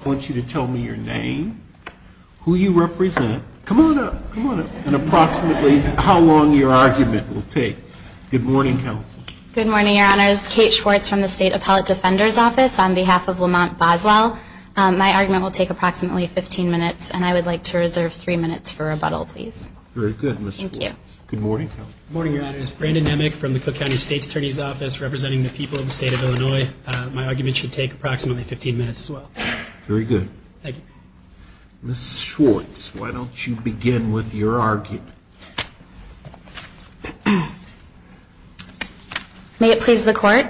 I want you to tell me your name, who you represent, come on up, come on up, and approximately how long your argument will take. Good morning, counsel. Good morning, your honors. Kate Schwartz from the State Appellate Defender's Office on behalf of Lamont Boswell. My argument will take approximately 15 minutes, and I would like to reserve three minutes for rebuttal, please. Very good, Ms. Schwartz. Thank you. Good morning, counsel. Good morning, your honors. Brandon Nemec from the Cook County State Attorney's Office representing the people of the state of Illinois. My argument should take approximately 15 minutes as well. Very good. Thank you. Ms. Schwartz, why don't you begin with your argument. May it please the court,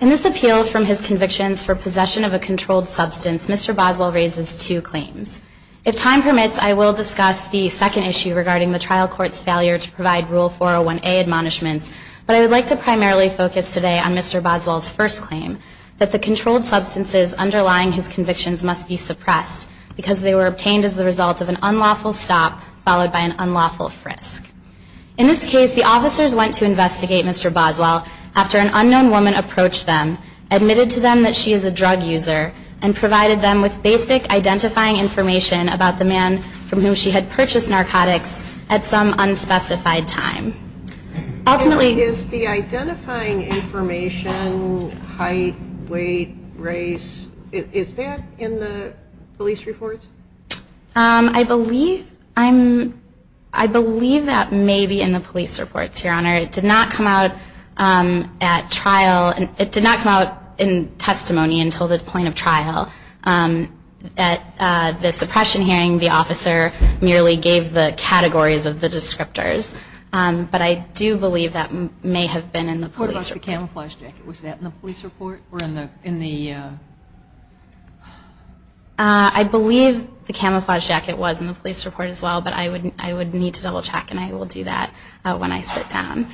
in this appeal from his convictions for possession of a controlled substance, Mr. Boswell raises two claims. If time permits, I will discuss the second issue regarding the trial court's failure to provide Rule 401A admonishments, but I would like to primarily focus today on Mr. Boswell's first claim, that the controlled substances underlying his convictions must be suppressed because they were obtained as the result of an unlawful stop followed by an unlawful frisk. In this case, the officers went to investigate Mr. Boswell after an unknown woman approached them, admitted to them that she is a drug user, and provided them with basic identifying information about the man from whom she had purchased narcotics at some unspecified time. Is the identifying information height, weight, race, is that in the police reports? I believe that may be in the police reports, Your Honor. It did not come out at trial, it did not come out in testimony until the point of trial. At the suppression hearing, the officer merely gave the categories of the descriptors, but I do believe that may have been in the police report. What about the camouflage jacket, was that in the police report or in the? I believe the camouflage jacket was in the police report as well, but I would need to double check and I will do that when I sit down.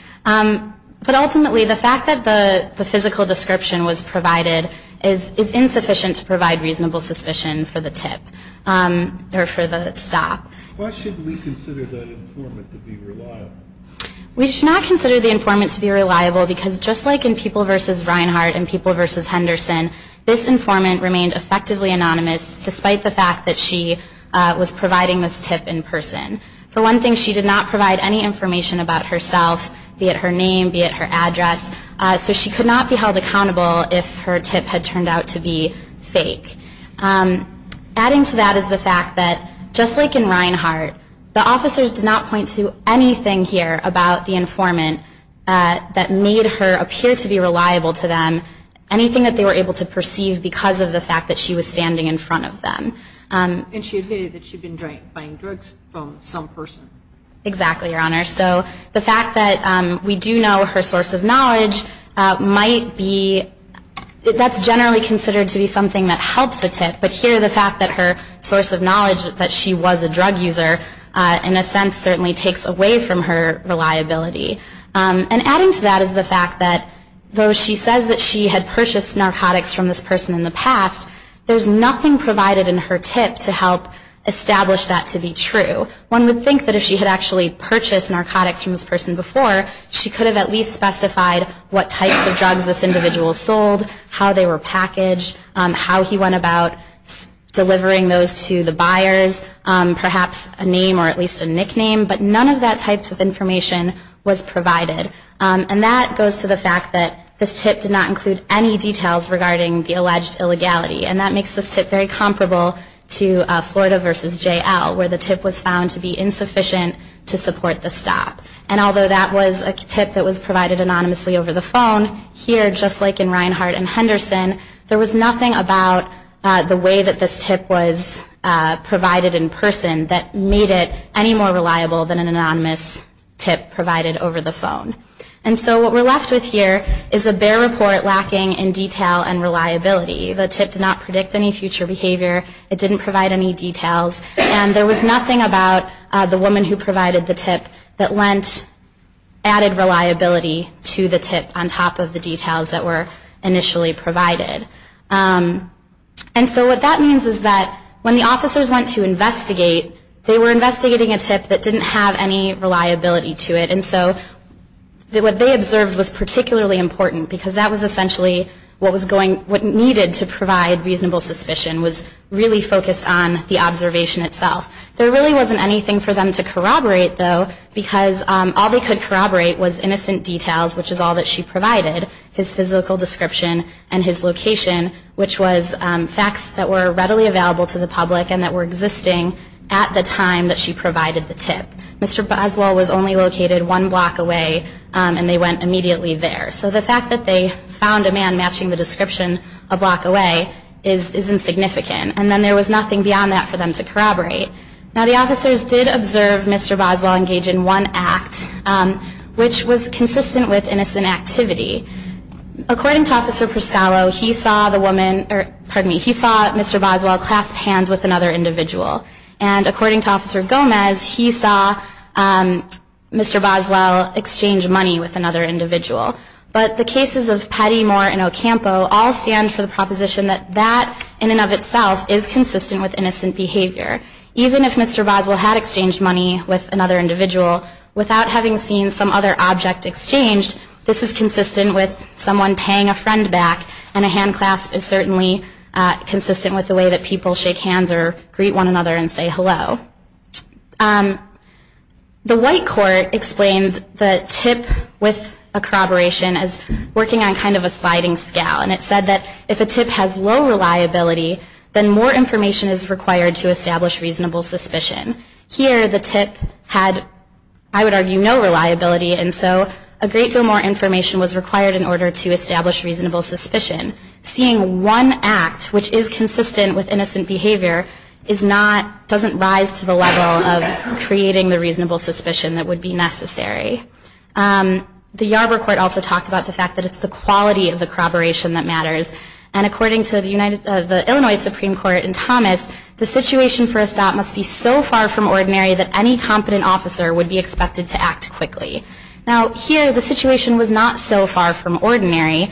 But ultimately, the fact that the physical description was provided is insufficient to provide reasonable suspicion for the tip or for the stop. Why should we consider the informant to be reliable? We should not consider the informant to be reliable because just like in People v. Reinhart and People v. Henderson, this informant remained effectively anonymous despite the fact that she was providing this tip in person. For one thing, she did not provide any information about herself, be it her name, be it her address, so she could not be held accountable if her tip had turned out to be fake. Adding to that is the fact that just like in Reinhart, the officers did not point to anything here about the informant that made her appear to be reliable to them, anything that they were able to perceive because of the fact that she was standing in front of them. And she admitted that she had been buying drugs from some person. Exactly, Your Honor. So the fact that we do know her source of knowledge might be, that's generally considered to be something that helps the tip, but here the fact that her source of knowledge, that she was a drug user, in a sense certainly takes away from her reliability. And adding to that is the fact that though she says that she had purchased narcotics from this person in the past, there's nothing provided in her tip to help establish that to be true. One would think that if she had actually purchased narcotics from this person before, she could have at least specified what types of drugs this individual sold, how they were packaged, how he went about delivering those to the buyers, perhaps a name or at least a nickname, but none of that types of information was provided. And that goes to the fact that this tip did not include any details regarding the alleged illegality. And that makes this tip very comparable to Florida v. J.L., where the tip was found to be insufficient to support the stop. And although that was a tip that was provided anonymously over the phone, here just like in Reinhart and Henderson, there was nothing about the way that this tip was provided in person that made it any more reliable than an anonymous tip provided over the phone. And so what we're left with here is a bare report lacking in detail and reliability. The tip did not predict any future behavior. It didn't provide any details. And there was nothing about the woman who provided the tip that lent added reliability to the tip on top of the details that were initially provided. They were investigating a tip that didn't have any reliability to it. And so what they observed was particularly important, because that was essentially what needed to provide reasonable suspicion, was really focused on the observation itself. There really wasn't anything for them to corroborate, though, because all they could corroborate was innocent details, which is all that she provided, his physical description and his location, which was facts that were readily available to the public and that were existing at the time that she provided the tip. Mr. Boswell was only located one block away, and they went immediately there. So the fact that they found a man matching the description a block away is insignificant. And then there was nothing beyond that for them to corroborate. Now, the officers did observe Mr. Boswell engage in one act, which was consistent with innocent activity. According to Officer Pascallo, he saw Mr. Boswell clasp hands with another individual. And according to Officer Gomez, he saw Mr. Boswell exchange money with another individual. But the cases of Pettymore and Ocampo all stand for the proposition that that, in and of itself, is consistent with innocent behavior. Even if Mr. Boswell had exchanged money with another individual, without having seen some other object exchanged, this is consistent with someone paying a friend back, and a hand clasp is certainly consistent with the way that people shake hands or greet one another and say hello. The White Court explained the tip with a corroboration as working on kind of a sliding scale. And it said that if a tip has low reliability, then more information is required to establish reasonable suspicion. Here, the tip had, I would argue, no reliability, and so a great deal more information was required in order to establish reasonable suspicion. Seeing one act which is consistent with innocent behavior doesn't rise to the level of creating the reasonable suspicion that would be necessary. The Yarborough Court also talked about the fact that it's the quality of the corroboration that matters. And according to the Illinois Supreme Court in Thomas, the situation for a stop must be so far from ordinary that any competent officer would be expected to act quickly. Now here, the situation was not so far from ordinary.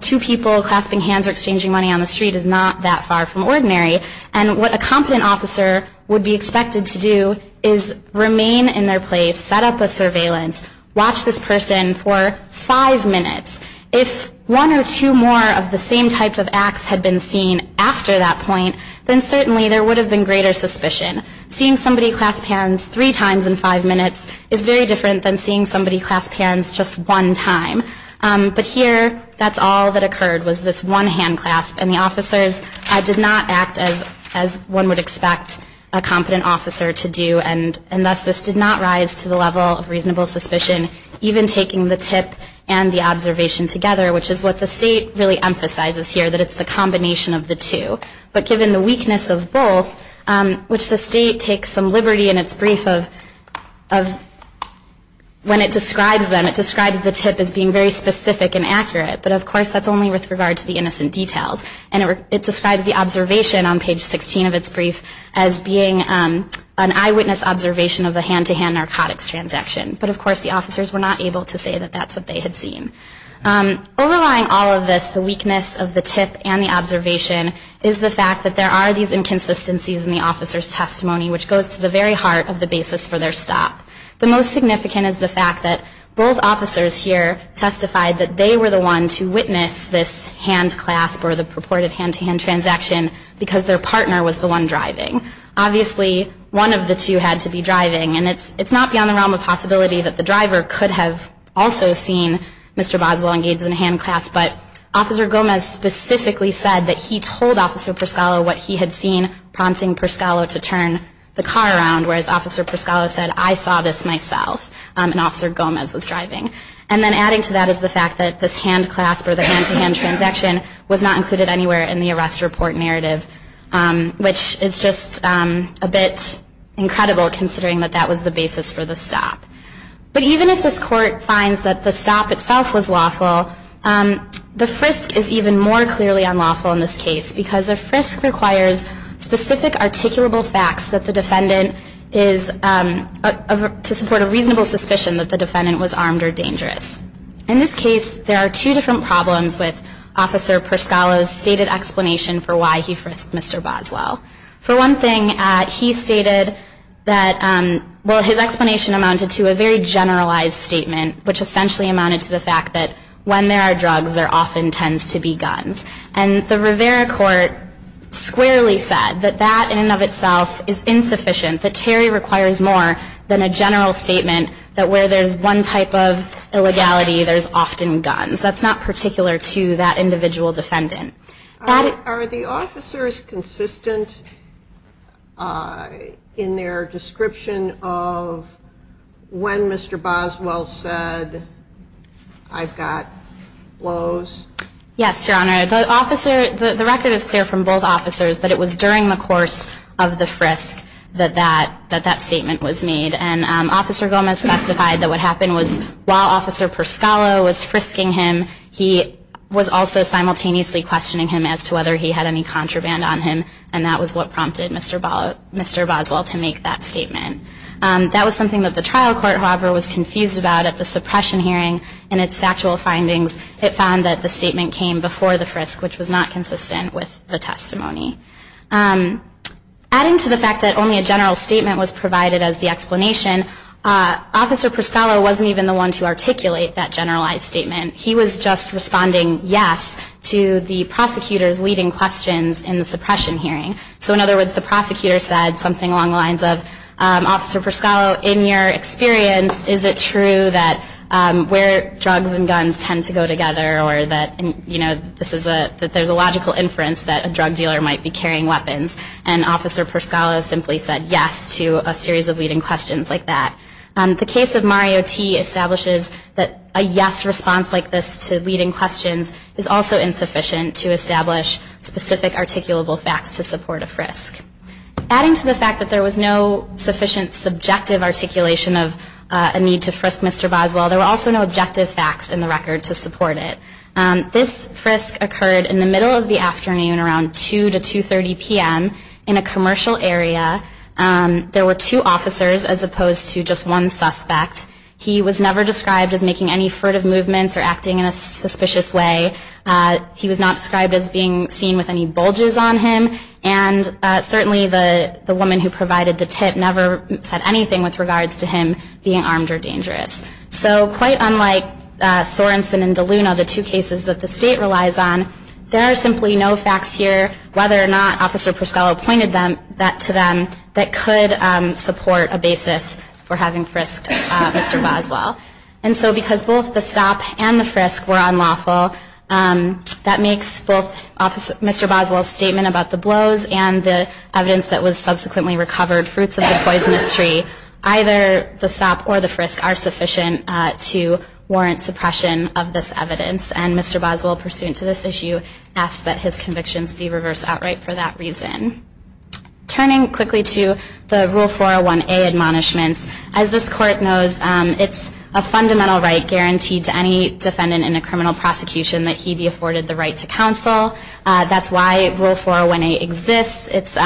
Two people clasping hands or exchanging money on the street is not that far from ordinary. And what a competent officer would be expected to do is remain in their place, set up a surveillance, watch this person for five minutes. If one or two more of the same type of acts had been seen after that point, then certainly there would have been greater suspicion. Seeing somebody clasp hands three times in five minutes is very different than seeing somebody clasp hands just one time. But here, that's all that occurred was this one hand clasp, and the officers did not act as one would expect a competent officer to do, and thus this did not rise to the level of reasonable suspicion, even taking the tip and the observation together, which is what the State really emphasizes here, that it's the combination of the two. But given the weakness of both, which the State takes some liberty in its brief of when it describes them, it describes the tip as being very specific and accurate, but of course that's only with regard to the innocent details. And it describes the observation on page 16 of its brief as being an eyewitness observation of a hand-to-hand narcotics transaction. But of course the officers were not able to say that that's what they had seen. Overlying all of this, the weakness of the tip and the observation, is the fact that there are these inconsistencies in the officer's testimony, which goes to the very heart of the basis for their stop. The most significant is the fact that both officers here testified that they were the one to witness this hand clasp or the purported hand-to-hand transaction because their partner was the one driving. Obviously, one of the two had to be driving, and it's not beyond the realm of possibility that the driver could have also seen Mr. Boswell engaged in a hand clasp, but Officer Gomez specifically said that he told Officer Pescalo what he had seen prompting Pescalo to turn the car around, whereas Officer Pescalo said, I saw this myself, and Officer Gomez was driving. And then adding to that is the fact that this hand clasp or the hand-to-hand transaction was not included anywhere in the arrest report narrative, which is just a bit incredible considering that that was the basis for the stop. But even if this Court finds that the stop itself was lawful, the frisk is even more clearly unlawful in this case because a frisk requires specific articulable facts that the defendant is, to support a reasonable suspicion, that the defendant was armed or dangerous. In this case, there are two different problems with Officer Pescalo's stated explanation for why he frisked Mr. Boswell. For one thing, he stated that, well, his explanation amounted to a very generalized statement, which essentially amounted to the fact that when there are drugs, there often tends to be guns. And the Rivera Court squarely said that that in and of itself is insufficient, that Terry requires more than a general statement that where there's one type of illegality, there's often guns. That's not particular to that individual defendant. Are the officers consistent in their description of when Mr. Boswell said, I've got blows? Yes, Your Honor. The record is clear from both officers that it was during the course of the frisk that that statement was made. And Officer Gomez testified that what happened was while Officer Pescalo was frisking him, he was also simultaneously questioning him as to whether he had any contraband on him. And that was what prompted Mr. Boswell to make that statement. That was something that the trial court, however, was confused about at the suppression hearing in its factual findings. It found that the statement came before the frisk, which was not consistent with the testimony. Adding to the fact that only a general statement was provided as the explanation, Officer Pescalo wasn't even the one to articulate that generalized statement. He was just responding yes to the prosecutor's leading questions in the suppression hearing. So in other words, the prosecutor said something along the lines of, Officer Pescalo, in your experience, is it true that where drugs and guns tend to go together or that there's a logical inference that a drug dealer might be carrying weapons? And Officer Pescalo simply said yes to a series of leading questions like that. The case of Mario T. establishes that a yes response like this to leading questions is also insufficient to establish specific articulable facts to support a frisk. Adding to the fact that there was no sufficient subjective articulation of a need to frisk Mr. Boswell, there were also no objective facts in the record to support it. This frisk occurred in the middle of the afternoon around 2 to 2.30 p.m. in a commercial area. There were two officers as opposed to just one suspect. He was never described as making any furtive movements or acting in a suspicious way. He was not described as being seen with any bulges on him, and certainly the woman who provided the tip never said anything with regards to him being armed or dangerous. So quite unlike Sorensen and DeLuna, the two cases that the state relies on, there are simply no facts here whether or not Officer Pescalo pointed that to them that could support a basis for having frisked Mr. Boswell. And so because both the stop and the frisk were unlawful, that makes both Mr. Boswell's statement about the blows and the evidence that was subsequently recovered fruits of the poisonous tree. Either the stop or the frisk are sufficient to warrant suppression of this evidence, and Mr. Boswell, pursuant to this issue, asks that his convictions be reversed outright for that reason. Turning quickly to the Rule 401A admonishments, as this Court knows, it's a fundamental right guaranteed to any defendant in a criminal prosecution that he be afforded the right to counsel. That's why Rule 401A exists. It's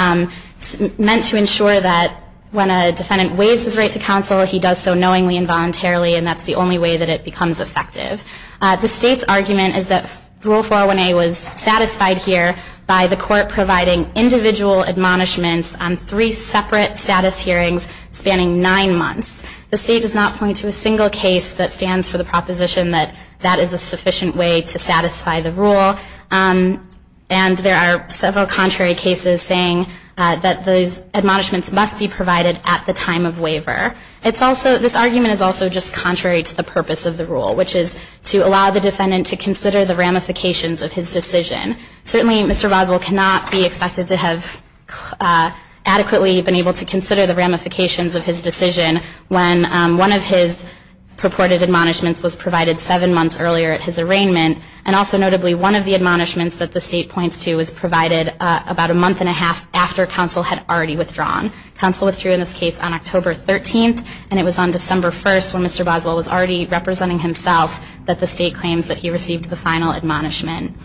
meant to ensure that when a defendant waives his right to counsel, he does so knowingly and voluntarily, and that's the only way that it becomes effective. The state's argument is that Rule 401A was satisfied here by the Court providing individual admonishments on three separate status hearings spanning nine months. The state does not point to a single case that stands for the proposition that that is a sufficient way to satisfy the rule. And there are several contrary cases saying that those admonishments must be provided at the time of waiver. This argument is also just contrary to the purpose of the rule, which is to allow the defendant to consider the ramifications of his decision. Certainly, Mr. Boswell cannot be expected to have adequately been able to consider the ramifications of his decision when one of his purported admonishments was provided seven months earlier at his arraignment, and also notably one of the admonishments that the state points to was provided about a month and a half after counsel had already withdrawn. Counsel withdrew in this case on October 13th, and it was on December 1st when Mr. Boswell was already representing himself that the state claims that he received the final admonishment.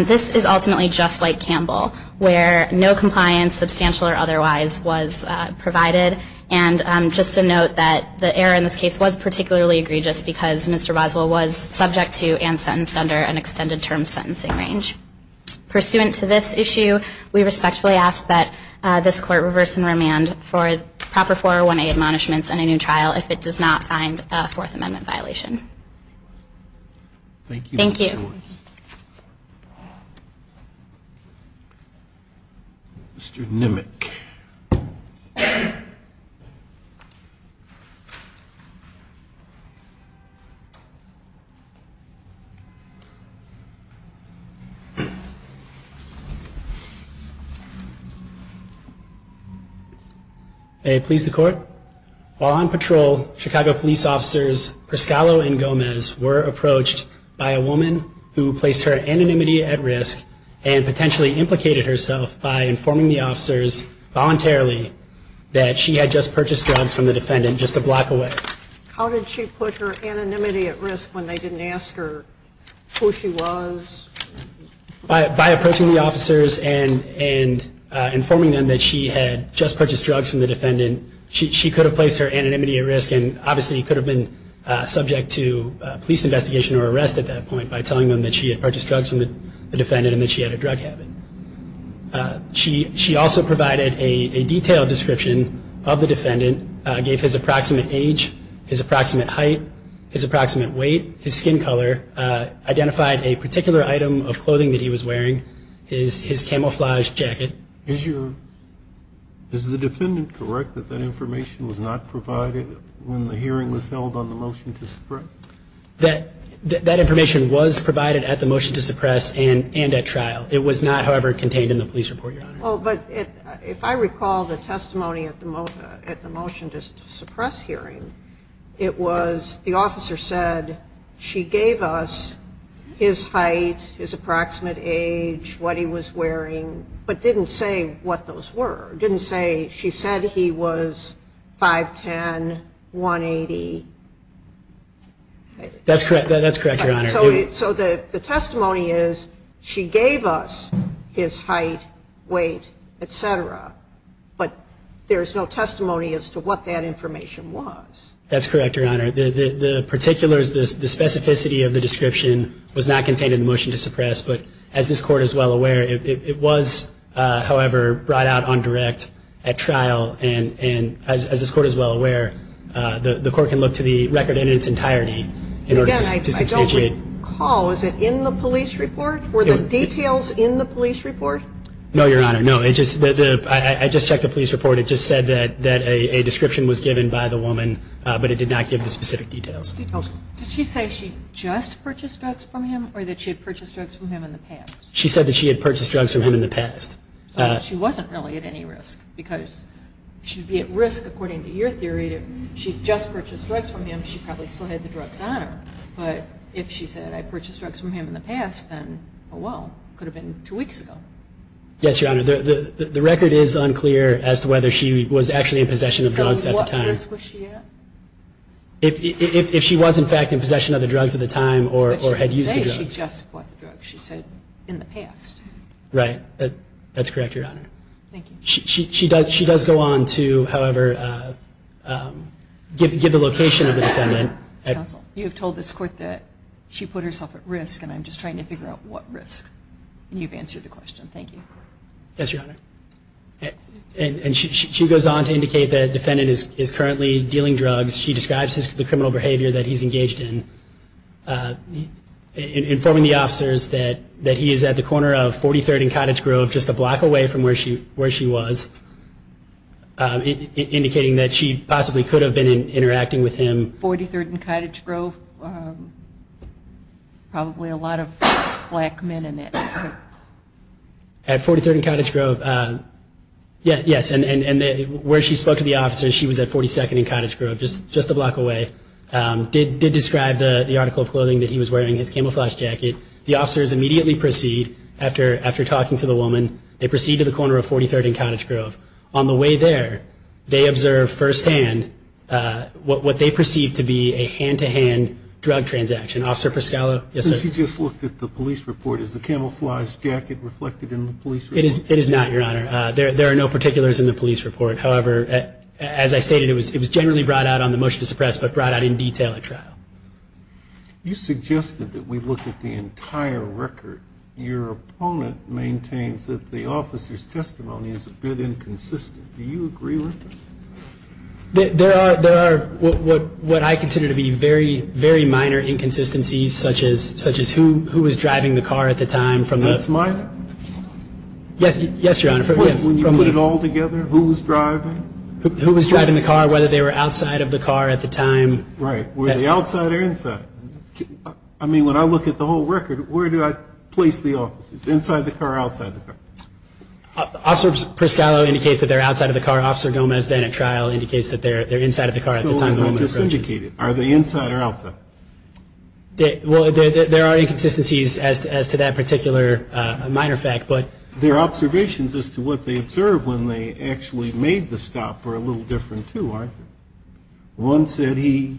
This is ultimately just like Campbell, where no compliance, substantial or otherwise, was provided. And just to note that the error in this case was particularly egregious because Mr. Boswell was subject to and sentenced under an extended term sentencing range. Pursuant to this issue, we respectfully ask that this Court reverse and remand for proper 401A admonishments in a new trial if it does not find a Fourth Amendment violation. Thank you. Thank you. Mr. Nimmick. May it please the Court. While on patrol, Chicago police officers Perscalo and Gomez were approached by a woman who placed her anonymity at risk and potentially implicated herself by informing the officers voluntarily that she had just purchased drugs from the defendant just a block away. How did she put her anonymity at risk when they didn't ask her who she was? By approaching the officers and informing them that she had just purchased drugs from the defendant, which obviously could have been subject to police investigation or arrest at that point by telling them that she had purchased drugs from the defendant and that she had a drug habit. She also provided a detailed description of the defendant, gave his approximate age, his approximate height, his approximate weight, his skin color, identified a particular item of clothing that he was wearing, his camouflaged jacket. Is the defendant correct that that information was not provided when the hearing was held on the motion to suppress? That information was provided at the motion to suppress and at trial. It was not, however, contained in the police report, Your Honor. Oh, but if I recall the testimony at the motion to suppress hearing, it was the officer said she gave us his height, his approximate age, what he was wearing, but didn't say what those were. Didn't say she said he was 5'10", 180. That's correct, Your Honor. So the testimony is she gave us his height, weight, et cetera, but there is no testimony as to what that information was. That's correct, Your Honor. The particulars, the specificity of the description was not contained in the motion to suppress, but as this Court is well aware, it was, however, brought out on direct at trial, and as this Court is well aware, the Court can look to the record in its entirety in order to substantiate. Again, I don't recall, was it in the police report? Were the details in the police report? No, Your Honor, no. I just checked the police report. It just said that a description was given by the woman, but it did not give the specific details. Did she say she just purchased drugs from him or that she had purchased drugs from him in the past? She said that she had purchased drugs from him in the past. So she wasn't really at any risk because she'd be at risk, according to your theory, if she'd just purchased drugs from him, she probably still had the drugs on her. But if she said, I purchased drugs from him in the past, then, oh, well, it could have been two weeks ago. Yes, Your Honor. The record is unclear as to whether she was actually in possession of drugs at the time. So at what risk was she at? If she was, in fact, in possession of the drugs at the time or had used the drugs. But she did say she just bought the drugs. She said in the past. Right. That's correct, Your Honor. Thank you. She does go on to, however, give the location of the defendant. Counsel, you have told this Court that she put herself at risk, and I'm just trying to figure out what risk. And you've answered the question. Thank you. Yes, Your Honor. And she goes on to indicate that the defendant is currently dealing drugs. She describes the criminal behavior that he's engaged in, informing the officers that he is at the corner of 43rd and Cottage Grove, just a block away from where she was, indicating that she possibly could have been interacting with him. 43rd and Cottage Grove? Probably a lot of black men in that group. At 43rd and Cottage Grove, yes. And where she spoke to the officers, she was at 42nd and Cottage Grove, just a block away. Did describe the article of clothing that he was wearing, his camouflage jacket. The officers immediately proceed after talking to the woman. They proceed to the corner of 43rd and Cottage Grove. On the way there, they observe firsthand what they perceive to be a hand-to-hand drug transaction. Officer Pascallo? Yes, sir. She just looked at the police report. Is the camouflage jacket reflected in the police report? It is not, Your Honor. There are no particulars in the police report. However, as I stated, it was generally brought out on the motion to suppress, but brought out in detail at trial. You suggested that we look at the entire record. Your opponent maintains that the officer's testimony is a bit inconsistent. Do you agree with this? There are what I consider to be very, very minor inconsistencies, such as who was driving the car at the time. That's minor? Yes, Your Honor. When you put it all together, who was driving? Who was driving the car, whether they were outside of the car at the time. Right. Were they outside or inside? I mean, when I look at the whole record, where do I place the officers? Inside the car or outside the car? Officer Pascallo indicates that they're outside of the car. Officer Gomez, then at trial, indicates that they're inside of the car at the time. So they're not disindicated. Are they inside or outside? Well, there are inconsistencies as to that particular minor fact. Their observations as to what they observed when they actually made the stop are a little different, too, aren't they? One said he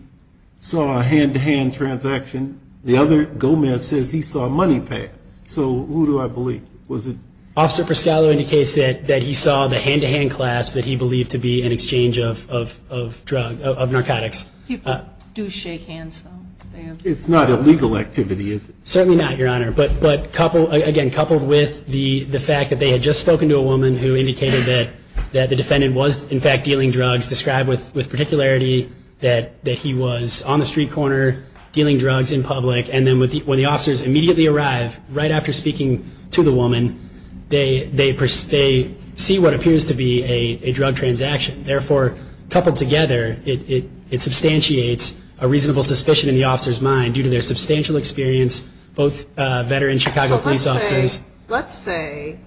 saw a hand-to-hand transaction. The other, Gomez, says he saw money passed. So who do I believe? Was it? Officer Pascallo indicates that he saw the hand-to-hand clasp that he believed to be an exchange of narcotics. People do shake hands, though. It's not illegal activity, is it? Certainly not, Your Honor. But, again, coupled with the fact that they had just spoken to a woman who indicated that the defendant was, in fact, dealing drugs, described with particularity that he was on the street corner dealing drugs in public, and then when the officers immediately arrive, right after speaking to the woman, they see what appears to be a drug transaction. Therefore, coupled together, it substantiates a reasonable suspicion in the officer's mind, due to their substantial experience, both veteran Chicago police officers. Let's say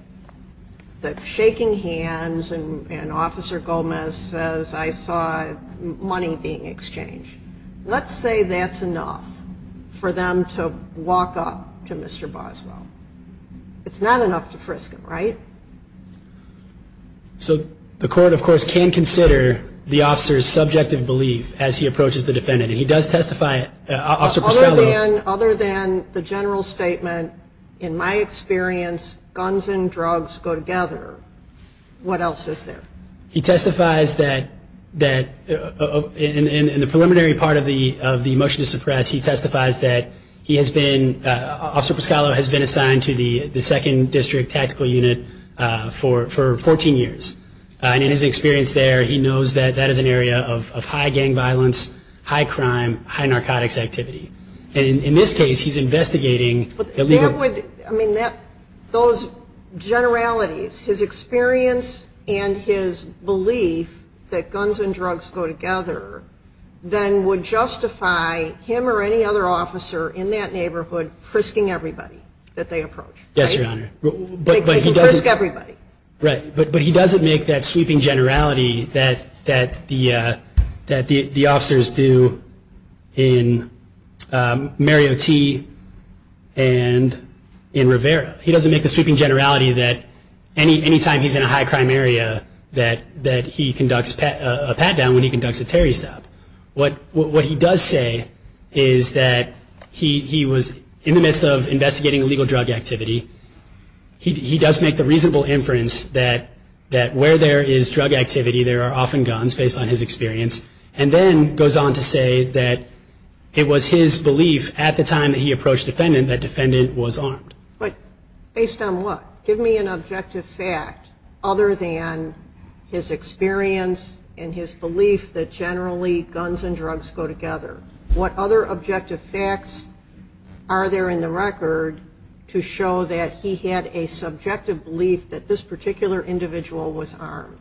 that shaking hands and Officer Gomez says, I saw money being exchanged. Let's say that's enough for them to walk up to Mr. Boswell. It's not enough to frisk him, right? So the court, of course, can consider the officer's subjective belief as he approaches the defendant, and he does testify, Officer Pascallo. Other than the general statement, in my experience, guns and drugs go together, what else is there? He testifies that, in the preliminary part of the motion to suppress, he testifies that he has been, Officer Pascallo has been assigned to the 2nd District Tactical Unit for 14 years. And in his experience there, he knows that that is an area of high gang violence, high crime, high narcotics activity. And in this case, he's investigating. I mean, those generalities, his experience and his belief that guns and drugs go together, then would justify him or any other officer in that neighborhood frisking everybody that they approach. Yes, Your Honor. They could frisk everybody. Right. But he doesn't make that sweeping generality that the officers do in Mario T. and in Rivera. He doesn't make the sweeping generality that any time he's in a high crime area, that he conducts a pat-down when he conducts a terry stop. What he does say is that he was in the midst of investigating illegal drug activity. He does make the reasonable inference that where there is drug activity, there are often guns, based on his experience. And then goes on to say that it was his belief at the time that he approached the defendant that the defendant was armed. But based on what? Give me an objective fact other than his experience and his belief that generally guns and drugs go together. What other objective facts are there in the record to show that he had a subjective belief that this particular individual was armed?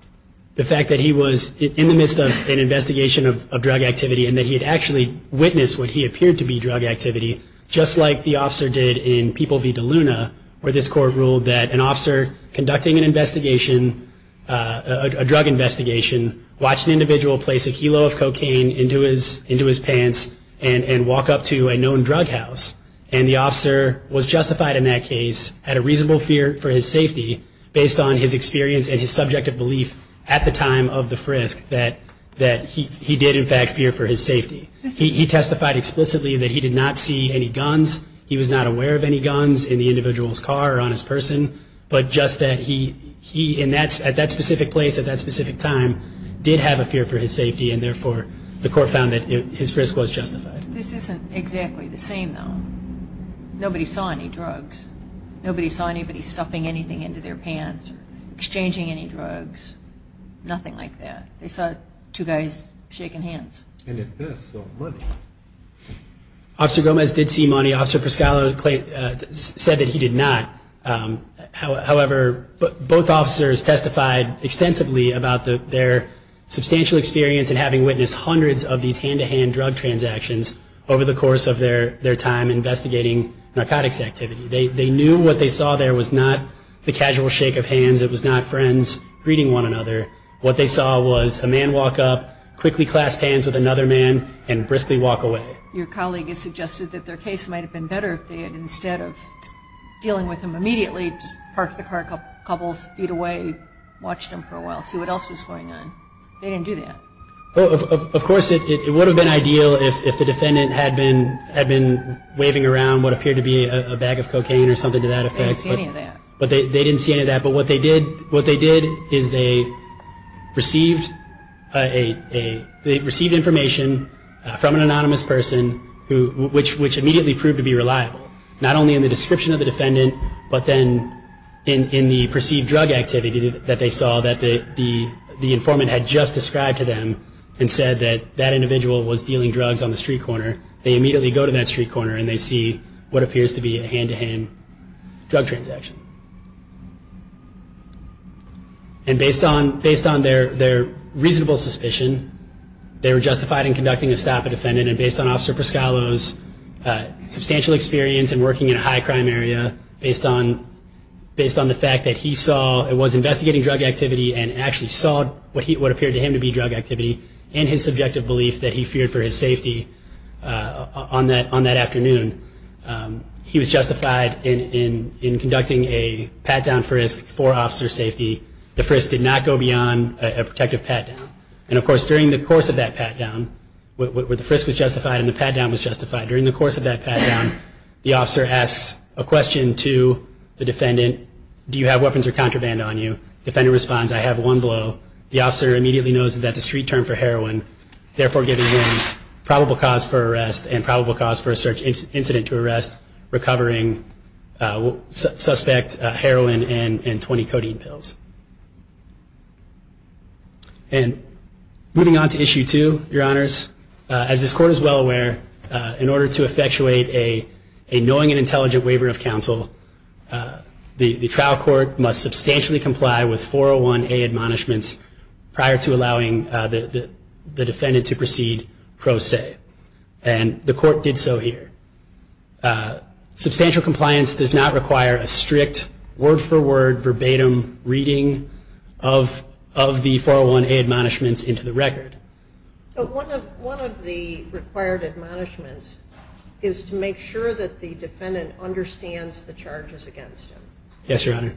The fact that he was in the midst of an investigation of drug activity and that he had actually witnessed what he appeared to be drug activity, just like the officer did in People v. DeLuna, where this court ruled that an officer conducting an investigation, a drug investigation, watched an individual place a kilo of cocaine into his pants and walk up to a known drug house. And the officer was justified in that case, had a reasonable fear for his safety, based on his experience and his subjective belief at the time of the frisk that he did in fact fear for his safety. He testified explicitly that he did not see any guns. He was not aware of any guns in the individual's car or on his person. But just that he, at that specific place, at that specific time, did have a fear for his safety and therefore the court found that his frisk was justified. This isn't exactly the same, though. Nobody saw any drugs. Nobody saw anybody stuffing anything into their pants or exchanging any drugs. Nothing like that. They saw two guys shaking hands. And if this sold money? Officer Gomez did see money. The officer said that he did not. However, both officers testified extensively about their substantial experience in having witnessed hundreds of these hand-to-hand drug transactions over the course of their time investigating narcotics activity. They knew what they saw there was not the casual shake of hands. It was not friends greeting one another. What they saw was a man walk up, quickly clasp hands with another man, and briskly walk away. Your colleague has suggested that their case might have been better if they had, instead of dealing with him immediately, just parked the car a couple feet away, watched him for a while, see what else was going on. They didn't do that. Of course, it would have been ideal if the defendant had been waving around what appeared to be a bag of cocaine or something to that effect. They didn't see any of that. They didn't see any of that. But what they did is they received information from an anonymous person, which immediately proved to be reliable, not only in the description of the defendant, but then in the perceived drug activity that they saw that the informant had just described to them and said that that individual was dealing drugs on the street corner. They immediately go to that street corner and they see what appears to be a hand-to-hand drug transaction. And based on their reasonable suspicion, they were justified in conducting a stop at the defendant. And based on Officer Pescalo's substantial experience in working in a high-crime area, based on the fact that he was investigating drug activity and actually saw what appeared to him to be drug activity and his subjective belief that he feared for his safety on that afternoon, he was justified in conducting a pat-down frisk for officer safety. The frisk did not go beyond a protective pat-down. And of course, during the course of that pat-down, where the frisk was justified and the pat-down was justified, during the course of that pat-down, the officer asks a question to the defendant, do you have weapons or contraband on you? Defendant responds, I have one blow. The officer immediately knows that that's a street term for heroin, therefore giving him probable cause for arrest and probable cause for a search incident to arrest, recovering suspect heroin and 20 codeine pills. And moving on to Issue 2, Your Honors, as this Court is well aware, in order to effectuate a knowing and intelligent waiver of counsel, the trial court must substantially comply with 401A admonishments prior to allowing the defendant to proceed pro se. And the Court did so here. Substantial compliance does not require a strict word-for-word, verbatim reading of the 401A admonishments into the record. One of the required admonishments is to make sure that the defendant understands the charges against him. Yes, Your Honor.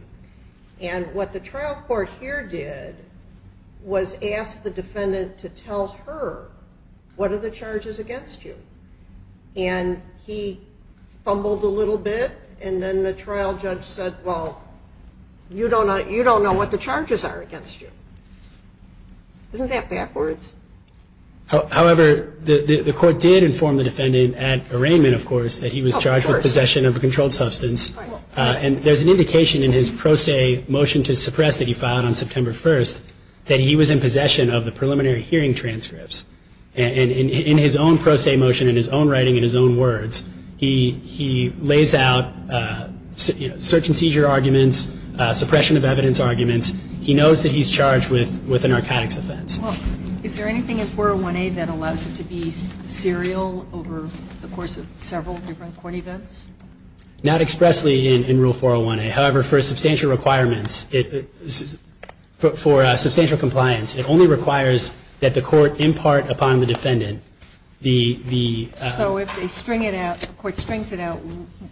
And what the trial court here did was ask the defendant to tell her, what are the charges against you? And he fumbled a little bit and then the trial judge said, well, you don't know what the charges are against you. Isn't that backwards? However, the Court did inform the defendant at arraignment, of course, that he was charged with possession of a controlled substance. And there's an indication in his pro se motion to suppress that he filed on September 1st that he was in possession of the preliminary hearing transcripts. And in his own pro se motion, in his own writing, in his own words, he lays out search and seizure arguments, suppression of evidence arguments. He knows that he's charged with a narcotics offense. Well, is there anything in 401A that allows it to be serial over the course of several different court events? Not expressly in Rule 401A. However, for substantial requirements, for substantial compliance, it only requires that the court impart upon the defendant the ‑‑ So if they string it out, the court strings it out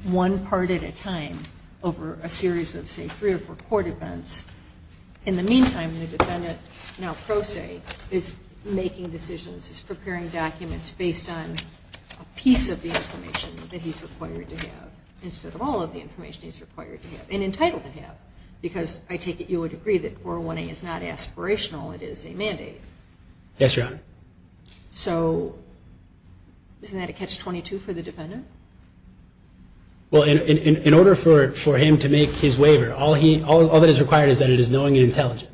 one part at a time over a series of, say, three or four court events. In the meantime, the defendant, now pro se, is making decisions, is preparing documents based on a piece of the information that he's required to have instead of all of the information he's required to have and entitled to have. Because I take it you would agree that 401A is not aspirational. It is a mandate. Yes, Your Honor. So isn't that a catch-22 for the defendant? Well, in order for him to make his waiver, all that is required is that it is knowing and intelligent.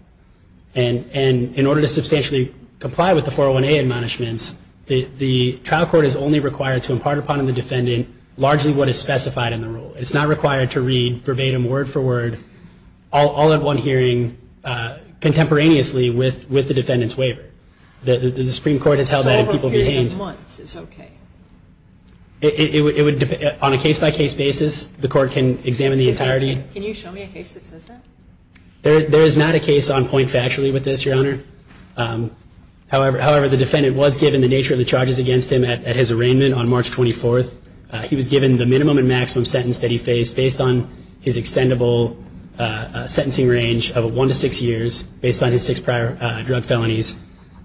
And in order to substantially comply with the 401A admonishments, the trial court is only required to impart upon the defendant largely what is specified in the rule. It's not required to read verbatim, word for word, all at one hearing contemporaneously with the defendant's waiver. The Supreme Court has held that in people's hands. It's over a period of months. It's okay. On a case-by-case basis, the court can examine the entirety. Can you show me a case that says that? There is not a case on point factually with this, Your Honor. However, the defendant was given the nature of the charges against him at his arraignment on March 24th. He was given the minimum and maximum sentence that he faced based on his extendable sentencing range of one to six years based on his six prior drug felonies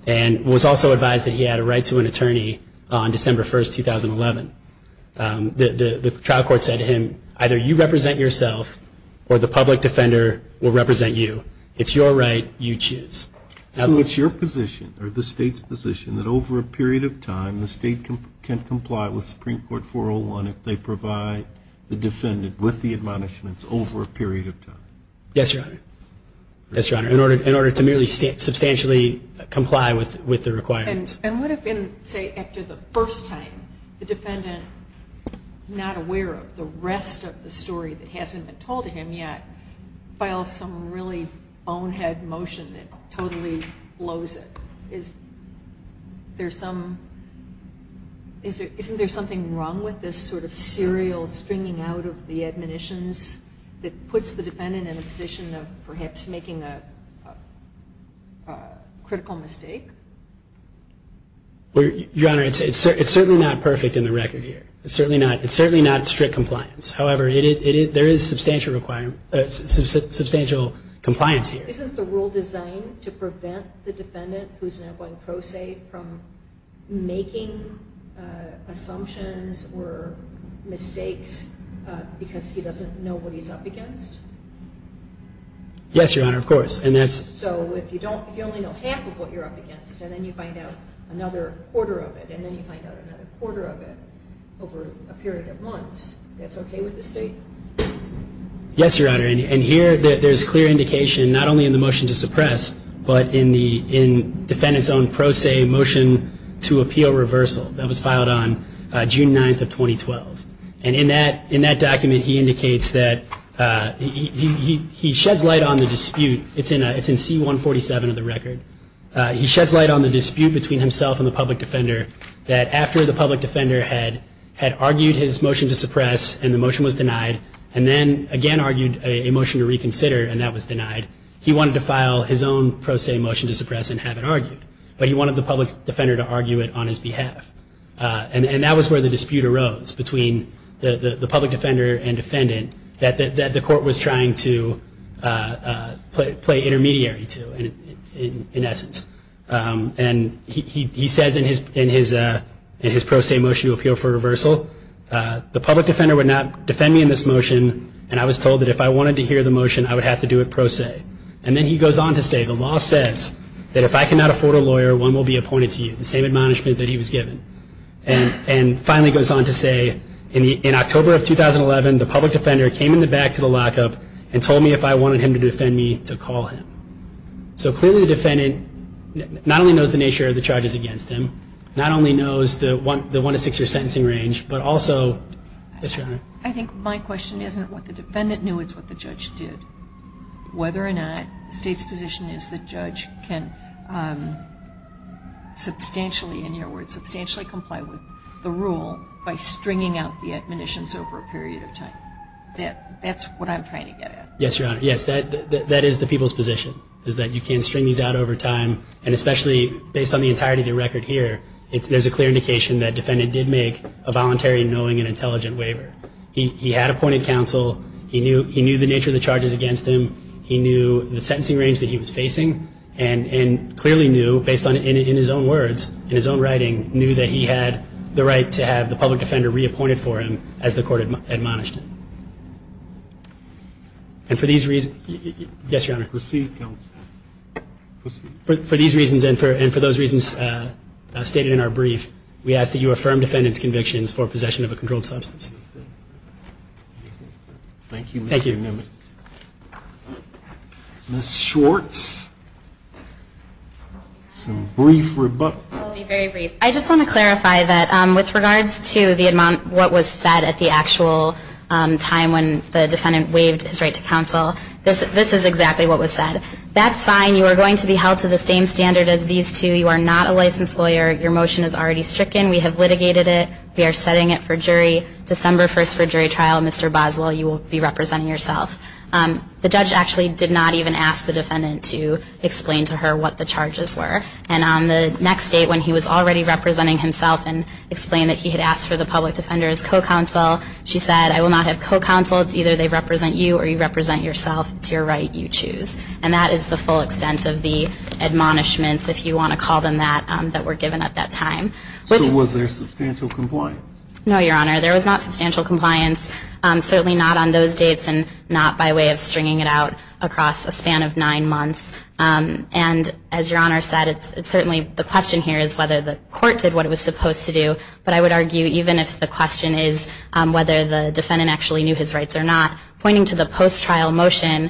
and was also advised that he had a right to an attorney on December 1st, 2011. The trial court said to him, either you represent yourself or the public defender will represent you. It's your right. You choose. So it's your position or the State's position that over a period of time, the State can comply with Supreme Court 401 if they provide the defendant with the admonishments over a period of time? Yes, Your Honor. Yes, Your Honor, in order to merely substantially comply with the requirements. And what if, say, after the first time, the defendant, not aware of the rest of the story that hasn't been told to him yet, files some really bonehead motion that totally blows it? Isn't there something wrong with this sort of serial stringing out of the admonitions that puts the defendant in a position of perhaps making a critical mistake? Your Honor, it's certainly not perfect in the record here. It's certainly not strict compliance. However, there is substantial compliance here. Isn't the rule designed to prevent the defendant, who is now going pro se, from making assumptions or mistakes because he doesn't know what he's up against? Yes, Your Honor, of course. So if you only know half of what you're up against and then you find out another quarter of it and then you find out another quarter of it over a period of months, that's okay with the State? Yes, Your Honor. And here there's clear indication, not only in the motion to suppress, but in the defendant's own pro se motion to appeal reversal that was filed on June 9th of 2012. And in that document he indicates that he sheds light on the dispute. It's in C-147 of the record. He sheds light on the dispute between himself and the public defender that after the public defender had argued his motion to suppress and the motion was denied and then again argued a motion to reconsider and that was denied, he wanted to file his own pro se motion to suppress and have it argued. But he wanted the public defender to argue it on his behalf. And that was where the dispute arose between the public defender and defendant that the court was trying to play intermediary to, in essence. And he says in his pro se motion to appeal for reversal, the public defender would not defend me in this motion and I was told that if I wanted to hear the motion, I would have to do it pro se. And then he goes on to say, the law says that if I cannot afford a lawyer, one will be appointed to you. The same admonishment that he was given. And finally goes on to say, in October of 2011, the public defender came in the back to the lockup and told me if I wanted him to defend me to call him. So clearly the defendant not only knows the nature of the charges against him, not only knows the one to six year sentencing range, but also, yes, Your Honor. I think my question isn't what the defendant knew. It's what the judge did. Whether or not the State's position is the judge can substantially, in your words, substantially comply with the rule by stringing out the admonitions over a period of time. That's what I'm trying to get at. Yes, Your Honor. Yes, that is the people's position, is that you can't string these out over time. And especially based on the entirety of the record here, there's a clear indication that the defendant did make a voluntary, knowing, and intelligent waiver. He had appointed counsel. He knew the nature of the charges against him. He knew the sentencing range that he was facing. And clearly knew, based on his own words, in his own writing, knew that he had the right to have the public defender reappointed for him as the court admonished him. And for these reasons, yes, Your Honor. Proceed, counsel. Proceed. For these reasons and for those reasons stated in our brief, we ask that you affirm defendant's convictions for possession of a controlled substance. Thank you, Mr. Newman. Thank you. Ms. Schwartz. Some brief rebuttals. I'll be very brief. I just want to clarify that with regards to the amount of what was said at the actual time when the defendant waived his right to counsel, this is exactly what was said. That's fine. You are going to be held to the same standard as these two. You are not a licensed lawyer. Your motion is already stricken. We have litigated it. We are setting it for jury. December 1st for jury trial, Mr. Boswell, you will be representing yourself. The judge actually did not even ask the defendant to explain to her what the charges were. And on the next date when he was already representing himself and explained that he had asked for the public defender as co-counsel, she said, I will not have co-counsel. It's either they represent you or you represent yourself. It's your right. You choose. And that is the full extent of the admonishments, if you want to call them that, that were given at that time. So was there substantial compliance? No, Your Honor. There was not substantial compliance, certainly not on those dates and not by way of stringing it out across a span of nine months. And as Your Honor said, certainly the question here is whether the court did what it was supposed to do. But I would argue even if the question is whether the defendant actually knew his rights or not, pointing to the post-trial motion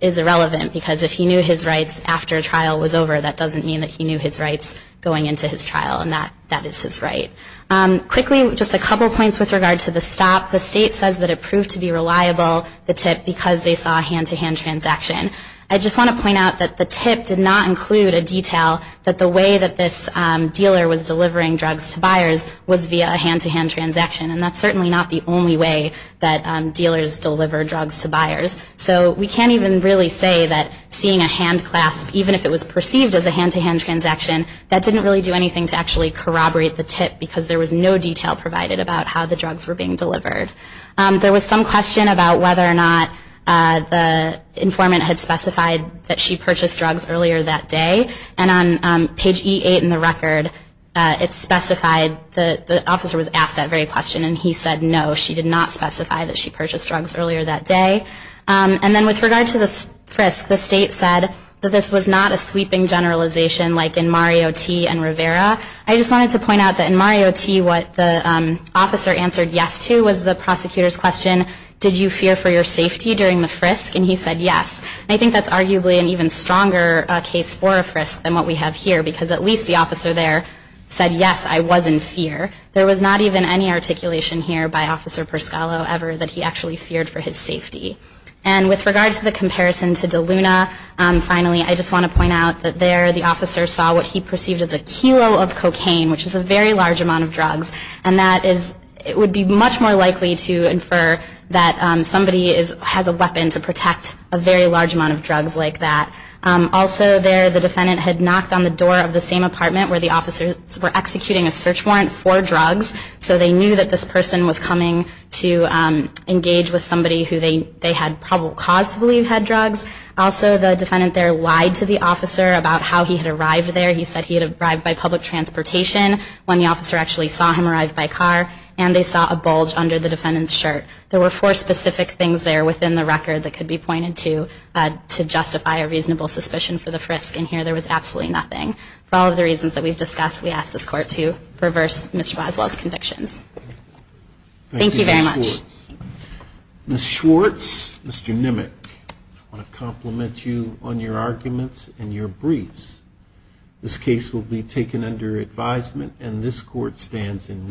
is irrelevant. Because if he knew his rights after trial was over, that doesn't mean that he knew his rights going into his trial. And that is his right. Quickly, just a couple points with regard to the stop. The State says that it proved to be reliable, the tip, because they saw a hand-to-hand transaction. I just want to point out that the tip did not include a detail that the way that this dealer was delivering drugs to buyers was via a hand-to-hand transaction. And that's certainly not the only way that dealers deliver drugs to buyers. So we can't even really say that seeing a hand clasp, even if it was perceived as a hand-to-hand transaction, that didn't really do anything to actually corroborate the tip because there was no detail provided about how the drugs were being delivered. There was some question about whether or not the informant had specified that she purchased drugs earlier that day. And on page E8 in the record, it specified that the officer was asked that very question. And he said no, she did not specify that she purchased drugs earlier that day. And then with regard to the frisk, the State said that this was not a sweeping generalization like in Mario T. and Rivera. I just wanted to point out that in Mario T., what the officer answered yes to was the prosecutor's question, did you fear for your safety during the frisk? And he said yes. And I think that's arguably an even stronger case for a frisk than what we have here because at least the officer there said yes, I was in fear. There was not even any articulation here by Officer Perscalo ever that he actually feared for his safety. And with regard to the comparison to DeLuna, finally, I just want to point out that there, the officer saw what he perceived as a kilo of cocaine, which is a very large amount of drugs. And that is, it would be much more likely to infer that somebody has a weapon to protect a very large amount of drugs like that. Also there, the defendant had knocked on the door of the same apartment where the officers were executing a search warrant for drugs. So they knew that this person was coming to engage with somebody who they had probable cause to believe had drugs. Also, the defendant there lied to the officer about how he had arrived there. He said he had arrived by public transportation when the officer actually saw him arrive by car. And they saw a bulge under the defendant's shirt. There were four specific things there within the record that could be pointed to to justify a reasonable suspicion for the frisk. And here there was absolutely nothing. For all of the reasons that we've discussed, we ask this Court to reverse Mr. Boswell's convictions. Thank you very much. Ms. Schwartz, Mr. Nimmick, I want to compliment you on your arguments and your briefs. This case will be taken under advisement, and this Court stands in recess.